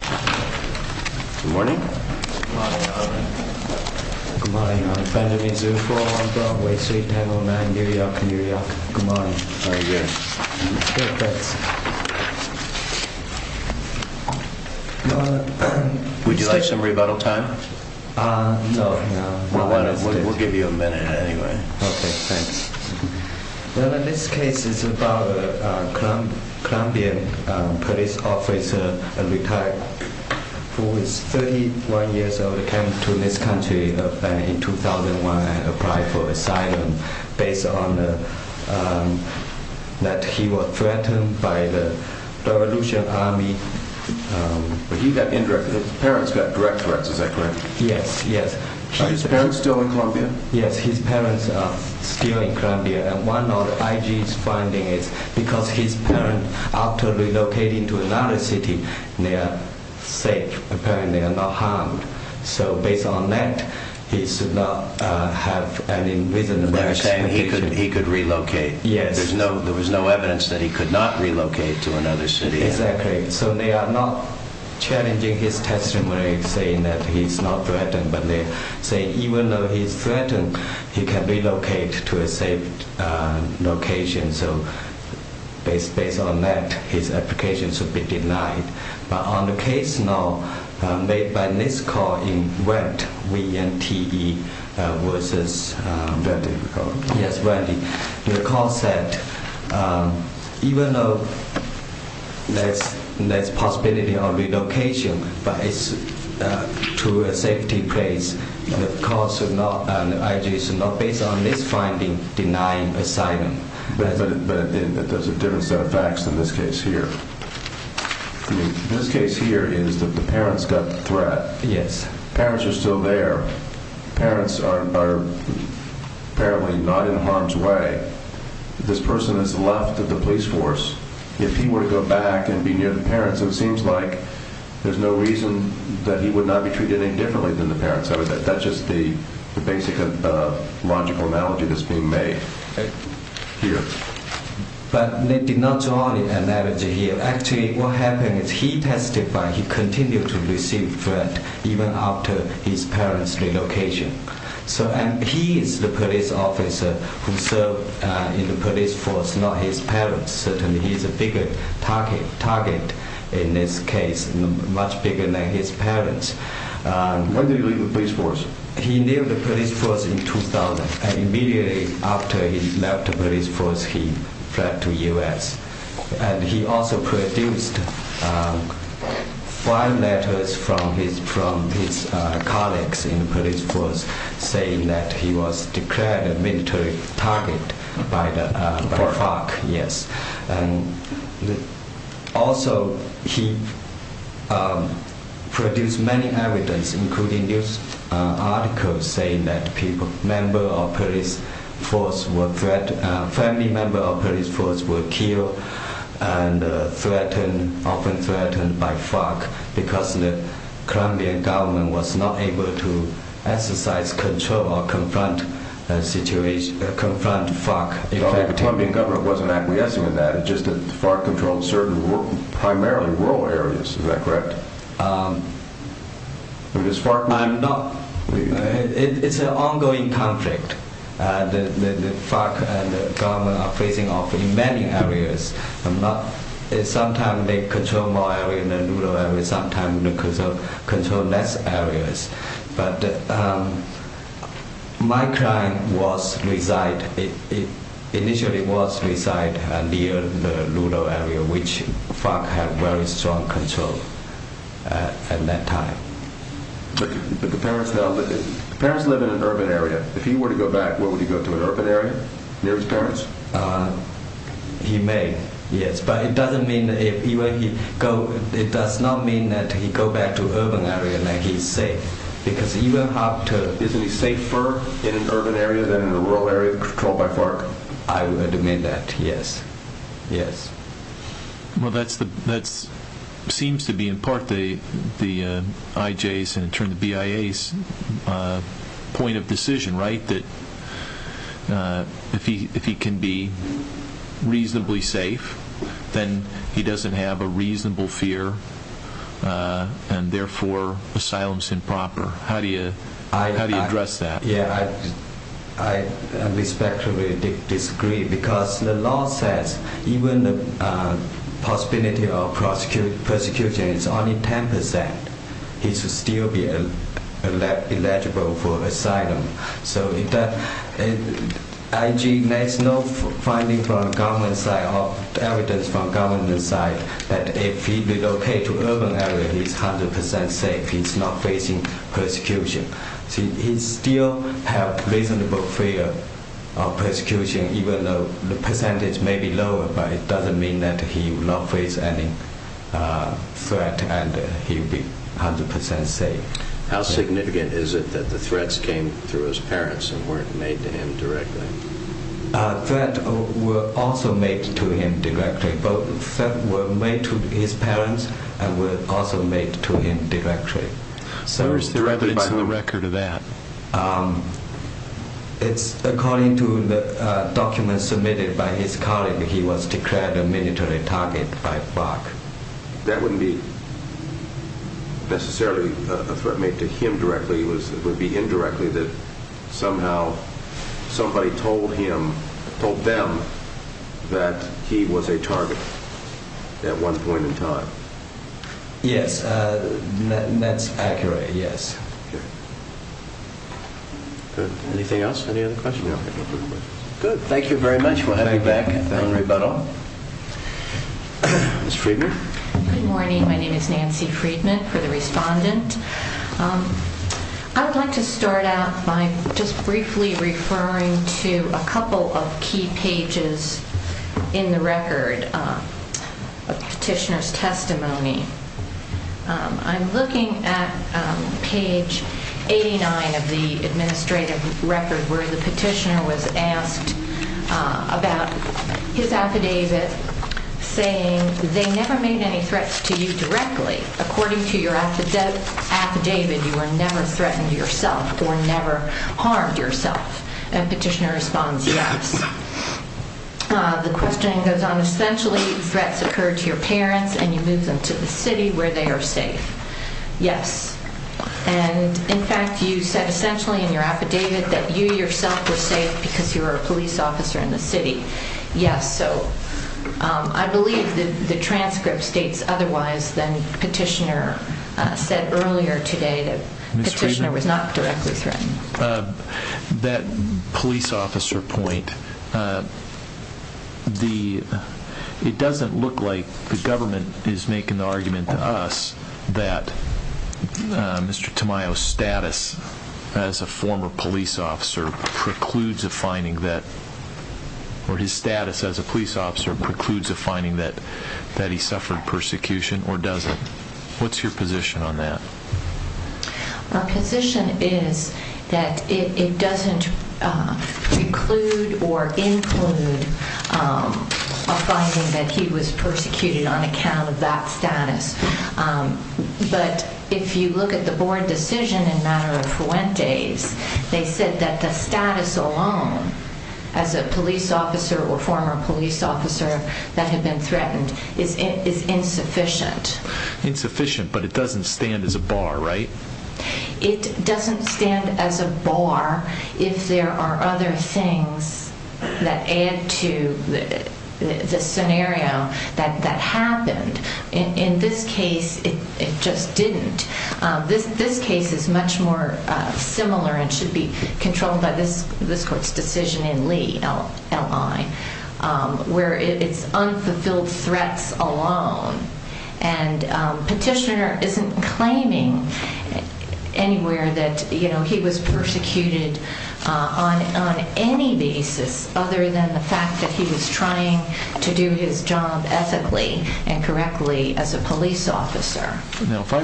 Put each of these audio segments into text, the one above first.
Good morning. Good morning. Good morning. Good morning. Good morning. Good morning. Good morning. Would you like some rebuttal time? No, no. We'll give you a minute anyway. Okay, thanks. This case is about a Colombian police officer who is 31 years old who came to this country in 2001 and applied for asylum based on that he was threatened by the revolution army. His parents got direct threats, is that correct? Yes, yes. Is his parents still in Colombia? Yes, his parents are still in Colombia and one of IG's findings is because his parents, after relocating to another city, they are safe. Apparently they are not harmed. So based on that, he should not have any reason to relocate. They're saying he could relocate. There was no evidence that he could not relocate to another city. Exactly. So they are not challenging his testimony saying that he's not threatened, but they say even though he's threatened, he can relocate to a safe location. So based on that, his application should be denied. But on the case now, made by this court in Wendt, W-E-N-D-T-E, the court said even though there's possibility of relocation, but it's to a safety place, the IG should not, based on this finding, deny asylum. But there's a different set of facts in this case here. This case here is that the parents got the threat. Parents are still there. Parents are apparently not in harm's way. This person has left the police force. If he were to go back and be near the parents, it seems like there's no reason that he would not be treated any differently than the parents. That's just the basic logical analogy that's being made. Here. But they did not draw the analogy here. Actually, what happened is he testified he continued to receive threat even after his parents' relocation. And he is the police officer who served in the police force, not his parents. Certainly he's a bigger target in this case, much bigger than his parents. When did he leave the police force? He left the police force in 2000. Immediately after he left the police force, he fled to the U.S. And he also produced five letters from his colleagues in the police force saying that he was declared a military target by the FARC. Also, he produced many evidence, including news articles saying that family members of the police force were killed and often threatened by the FARC because the Colombian government was not able to exercise control or confront the FARC. The Colombian government wasn't acquiescing in that. It's just that the FARC controlled primarily rural areas. Is that correct? It's an ongoing conflict. The FARC and the government are facing off in many areas. Sometimes they control more areas than rural areas. Sometimes they control less areas. But my client initially was residing near the rural area, which the FARC had very strong control at that time. But the parents now live in an urban area. If he were to go back, would he go to an urban area near his parents? He may, yes. But it does not mean that he would go back to an urban area where he is safe. Isn't he safer in an urban area than in a rural area controlled by the FARC? I would admit that, yes. Well, that seems to be in part the IJ's and in turn the BIA's point of decision, right? That if he can be reasonably safe, then he doesn't have a reasonable fear and therefore asylum is improper. How do you address that? I respectfully disagree because the law says even if the possibility of persecution is only 10%, he should still be eligible for asylum. So the IJ has no finding from the government side or evidence from the government side that if he relocates to an urban area, he is 100% safe. He is not facing persecution. He still has a reasonable fear of persecution, even though the percentage may be lower. But it doesn't mean that he will not face any threat and he will be 100% safe. How significant is it that the threats came through his parents and weren't made to him directly? Threats were also made to him directly. Threats were made to his parents and were also made to him directly. Where is there evidence in the record of that? According to the documents submitted by his colleague, he was declared a military target by FARC. That wouldn't be necessarily a threat made to him directly. It would be indirectly that somehow somebody told him, told them, that he was a target at one point in time. Yes, that's accurate, yes. Anything else? Any other questions? Good, thank you very much. We'll have you back at the rebuttal. Ms. Friedman? Good morning, my name is Nancy Friedman for the respondent. I would like to start out by just briefly referring to a couple of key pages in the record of petitioner's testimony. I'm looking at page 89 of the administrative record where the petitioner was asked about his affidavit saying they never made any threats to you directly. According to your affidavit, you were never threatened yourself or never harmed yourself. And petitioner responds, yes. The question goes on, essentially threats occur to your parents and you move them to the city where they are safe. Yes, and in fact you said essentially in your affidavit that you yourself were safe because you were a police officer in the city. Yes, so I believe the transcript states otherwise than petitioner said earlier today that petitioner was not directly threatened. That police officer point, it doesn't look like the government is making the argument to us that Mr. Tamayo's status as a former police officer precludes a finding that, or his status as a police officer precludes a finding that he suffered persecution or doesn't. What's your position on that? Our position is that it doesn't preclude or include a finding that he was persecuted on account of that status. But if you look at the board decision in matter of Fuentes, they said that the status alone as a police officer or former police officer that had been threatened is insufficient. Insufficient, but it doesn't stand as a bar, right? It doesn't stand as a bar if there are other things that add to the scenario that happened. In this case, it just didn't. This case is much more similar and should be controlled by this court's decision in Lee L.I., where it's unfulfilled threats alone. And petitioner isn't claiming anywhere that he was persecuted on any basis other than the fact that he was trying to do his job ethically and correctly as a police officer. Now, if I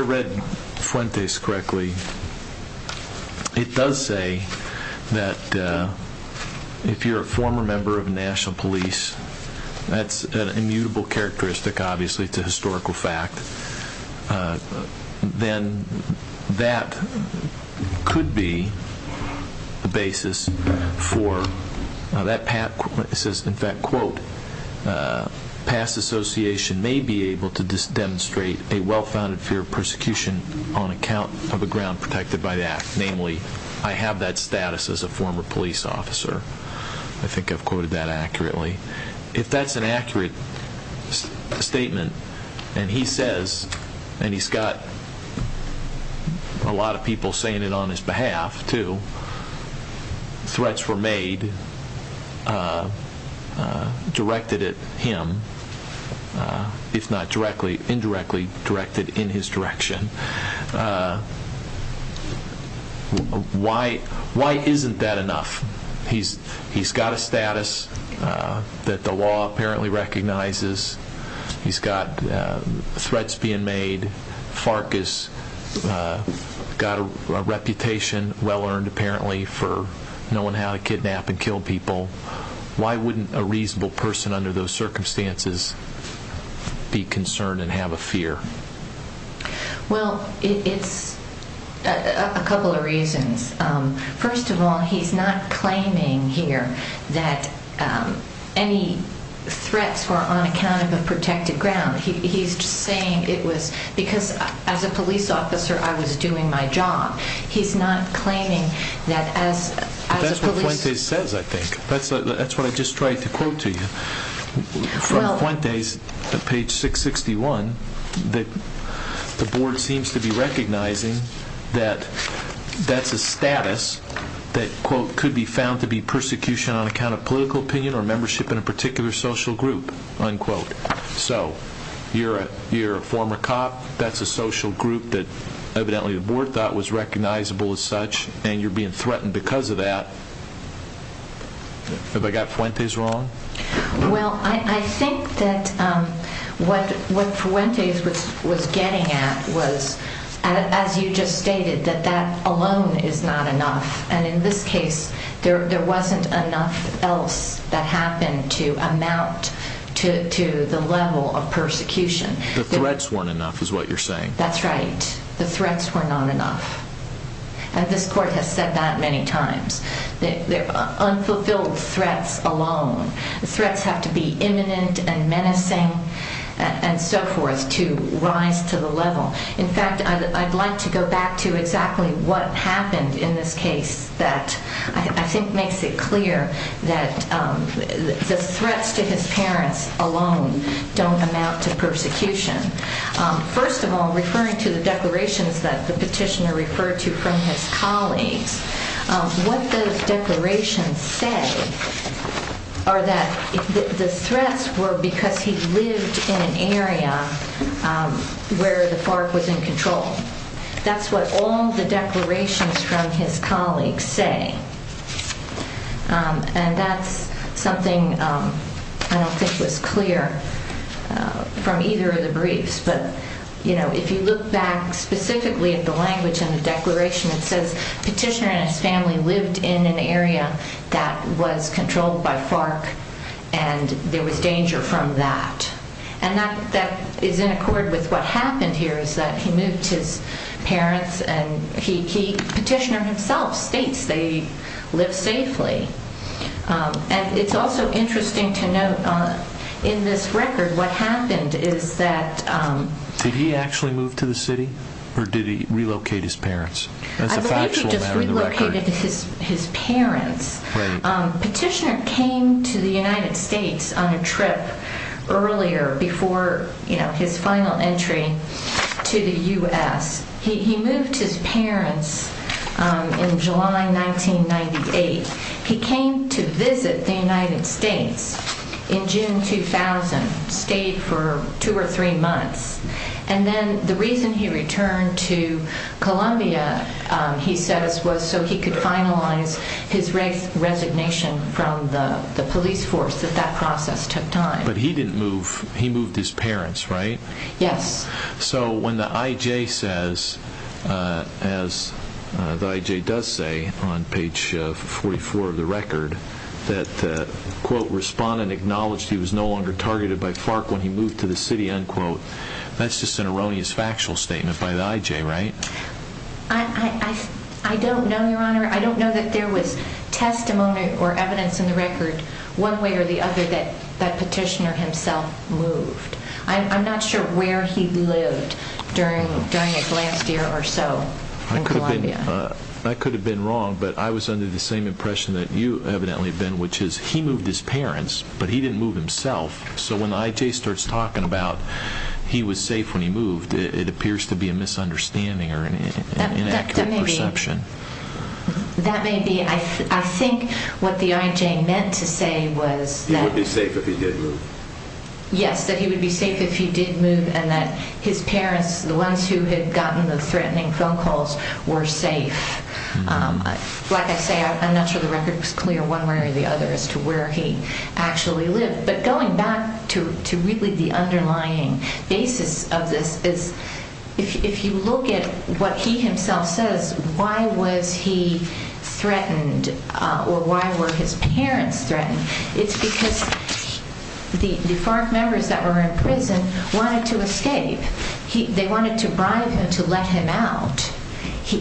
read Fuentes correctly, it does say that if you're a former member of national police, that's an immutable characteristic, obviously. It's a historical fact. Then that could be the basis for that. It says, in fact, quote, past association may be able to demonstrate a well-founded fear of persecution on account of a ground protected by that. Namely, I have that status as a former police officer. I think I've quoted that accurately. If that's an accurate statement and he says, and he's got a lot of people saying it on his behalf, too, threats were made directed at him, if not indirectly directed in his direction, why isn't that enough? He's got a status that the law apparently recognizes. He's got threats being made. FARC has got a reputation, well-earned apparently, for knowing how to kidnap and kill people. Why wouldn't a reasonable person under those circumstances be concerned and have a fear? Well, it's a couple of reasons. First of all, he's not claiming here that any threats were on account of a protected ground. He's just saying it was because as a police officer I was doing my job. He's not claiming that as a police officer. That's what Fuentes says, I think. That's what I just tried to quote to you. From Fuentes, page 661, the board seems to be recognizing that that's a status that, quote, could be found to be persecution on account of political opinion or membership in a particular social group, unquote. So you're a former cop. That's a social group that evidently the board thought was recognizable as such, and you're being threatened because of that. Have I got Fuentes wrong? Well, I think that what Fuentes was getting at was, as you just stated, that that alone is not enough. And in this case, there wasn't enough else that happened to amount to the level of persecution. The threats weren't enough is what you're saying. That's right. The threats were not enough. And this court has said that many times. They're unfulfilled threats alone. The threats have to be imminent and menacing and so forth to rise to the level. In fact, I'd like to go back to exactly what happened in this case that I think makes it clear that the threats to his parents alone don't amount to persecution. First of all, referring to the declarations that the petitioner referred to from his colleagues, what those declarations say are that the threats were because he lived in an area where the FARC was in control. That's what all the declarations from his colleagues say. And that's something I don't think was clear from either of the briefs. But, you know, if you look back specifically at the language in the declaration, it says, Petitioner and his family lived in an area that was controlled by FARC, and there was danger from that. And that is in accord with what happened here, is that he moved his parents. Petitioner himself states they lived safely. And it's also interesting to note in this record what happened is that... Did he actually move to the city or did he relocate his parents? I believe he just relocated his parents. Petitioner came to the United States on a trip earlier before his final entry to the U.S. He moved his parents in July 1998. He came to visit the United States in June 2000, stayed for two or three months. And then the reason he returned to Columbia, he says, was so he could finalize his resignation from the police force, that that process took time. But he didn't move, he moved his parents, right? Yes. So when the I.J. says, as the I.J. does say on page 44 of the record, that the, quote, respondent acknowledged he was no longer targeted by FARC when he moved to the city, unquote, that's just an erroneous factual statement by the I.J., right? I don't know, Your Honor. I don't know that there was testimony or evidence in the record one way or the other that Petitioner himself moved. I'm not sure where he lived during his last year or so in Columbia. I could have been wrong, but I was under the same impression that you evidently have been, which is he moved his parents, but he didn't move himself. So when the I.J. starts talking about he was safe when he moved, it appears to be a misunderstanding or an inaccurate perception. That may be. I think what the I.J. meant to say was that... He would be safe if he did move. Yes, that he would be safe if he did move and that his parents, the ones who had gotten the threatening phone calls, were safe. Like I say, I'm not sure the record was clear one way or the other as to where he actually lived. But going back to really the underlying basis of this is if you look at what he himself says, why was he threatened or why were his parents threatened? It's because the FARC members that were in prison wanted to escape. They wanted to bribe him to let him out,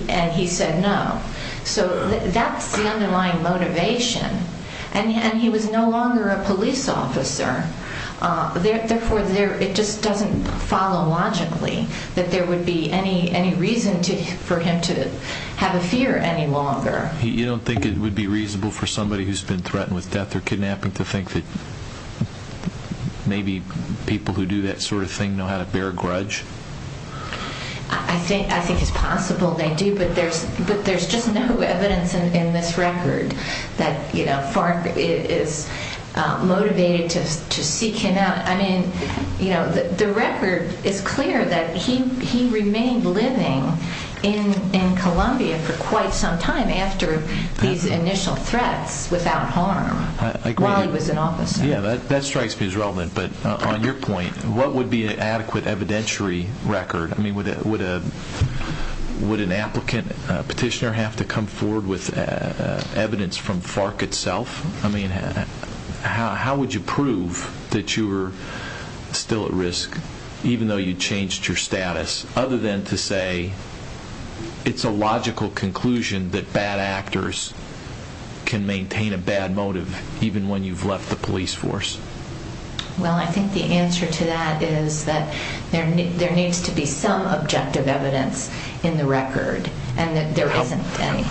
and he said no. So that's the underlying motivation. And he was no longer a police officer. Therefore, it just doesn't follow logically that there would be any reason for him to have a fear any longer. You don't think it would be reasonable for somebody who's been threatened with death or kidnapping to think that maybe people who do that sort of thing know how to bear grudge? I think it's possible they do, but there's just no evidence in this record that FARC is motivated to seek him out. The record is clear that he remained living in Colombia for quite some time after these initial threats without harm while he was an officer. That strikes me as relevant. But on your point, what would be an adequate evidentiary record? Would an applicant petitioner have to come forward with evidence from FARC itself? How would you prove that you were still at risk, even though you changed your status, other than to say it's a logical conclusion that bad actors can maintain a bad motive even when you've left the police force? Well, I think the answer to that is that there needs to be some objective evidence in the record and that there isn't any.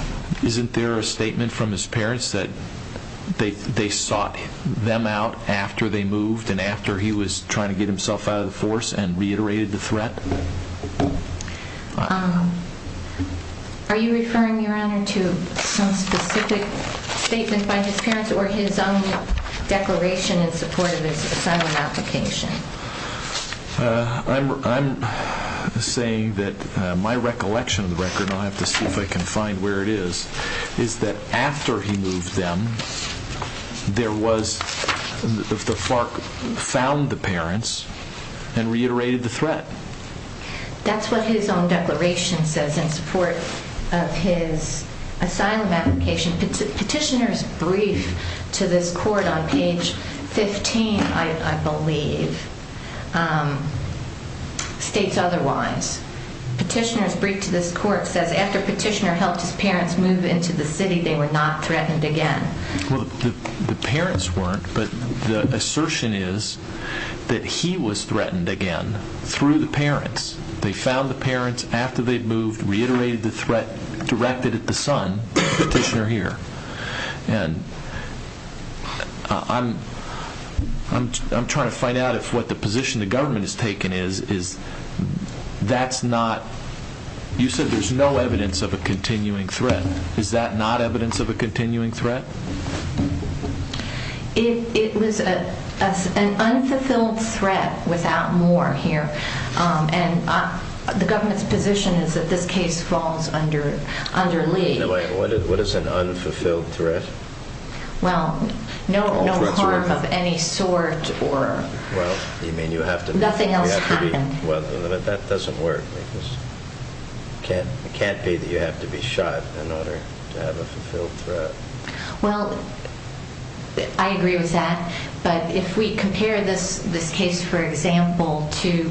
Isn't there a statement from his parents that they sought them out after they moved and after he was trying to get himself out of the force and reiterated the threat? Are you referring, Your Honor, to some specific statement by his parents or his own declaration in support of his asylum application? I'm saying that my recollection of the record, and I'll have to see if I can find where it is, is that after he moved them, the FARC found the parents and reiterated the threat. That's what his own declaration says in support of his asylum application. Petitioner's brief to this court on page 15, I believe, states otherwise. Petitioner's brief to this court says, After Petitioner helped his parents move into the city, they were not threatened again. Well, the parents weren't, but the assertion is that he was threatened again through the parents. They found the parents after they'd moved, reiterated the threat, directed at the son, Petitioner here. And I'm trying to find out if what the position the government has taken is that's not, you said there's no evidence of a continuing threat. Is that not evidence of a continuing threat? It was an unfulfilled threat without more here. And the government's position is that this case falls under Lee. What is an unfulfilled threat? Well, no harm of any sort or nothing else happened. Well, that doesn't work. It can't be that you have to be shot in order to have a fulfilled threat. Well, I agree with that. But if we compare this case, for example, to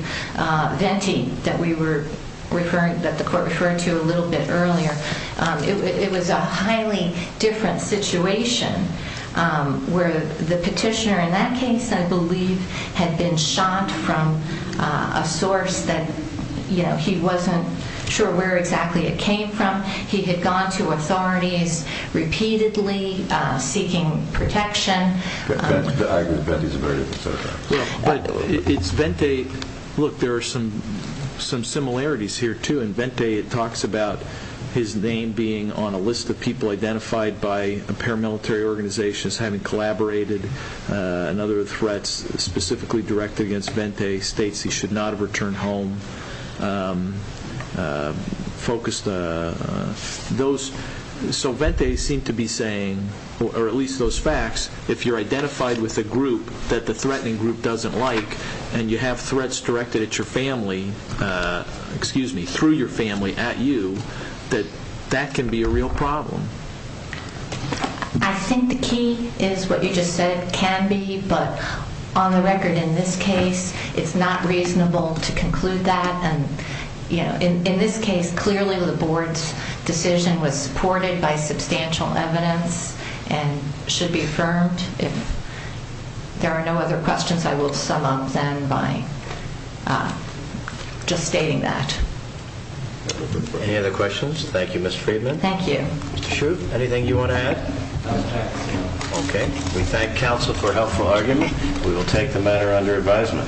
Venti that the court referred to a little bit earlier, it was a highly different situation where the petitioner in that case, I believe, had been shot from a source that he wasn't sure where exactly it came from. He had gone to authorities repeatedly seeking protection. I agree that Venti is a very different circumstance. But it's Venti. Look, there are some similarities here, too. In Venti it talks about his name being on a list of people identified by paramilitary organizations having collaborated in other threats specifically directed against Venti, states he should not have returned home, focused on those. So Venti seemed to be saying, or at least those facts, if you're identified with a group that the threatening group doesn't like and you have threats directed at your family, through your family, at you, that that can be a real problem. I think the key is what you just said, can be. But on the record in this case, it's not reasonable to conclude that. In this case, clearly the board's decision was supported by substantial evidence and should be affirmed. If there are no other questions, I will sum up then by just stating that. Any other questions? Thank you, Ms. Friedman. Thank you. Mr. Schrute, anything you want to add? Okay. We thank counsel for a helpful argument. We will take the matter under advisement. Thank you.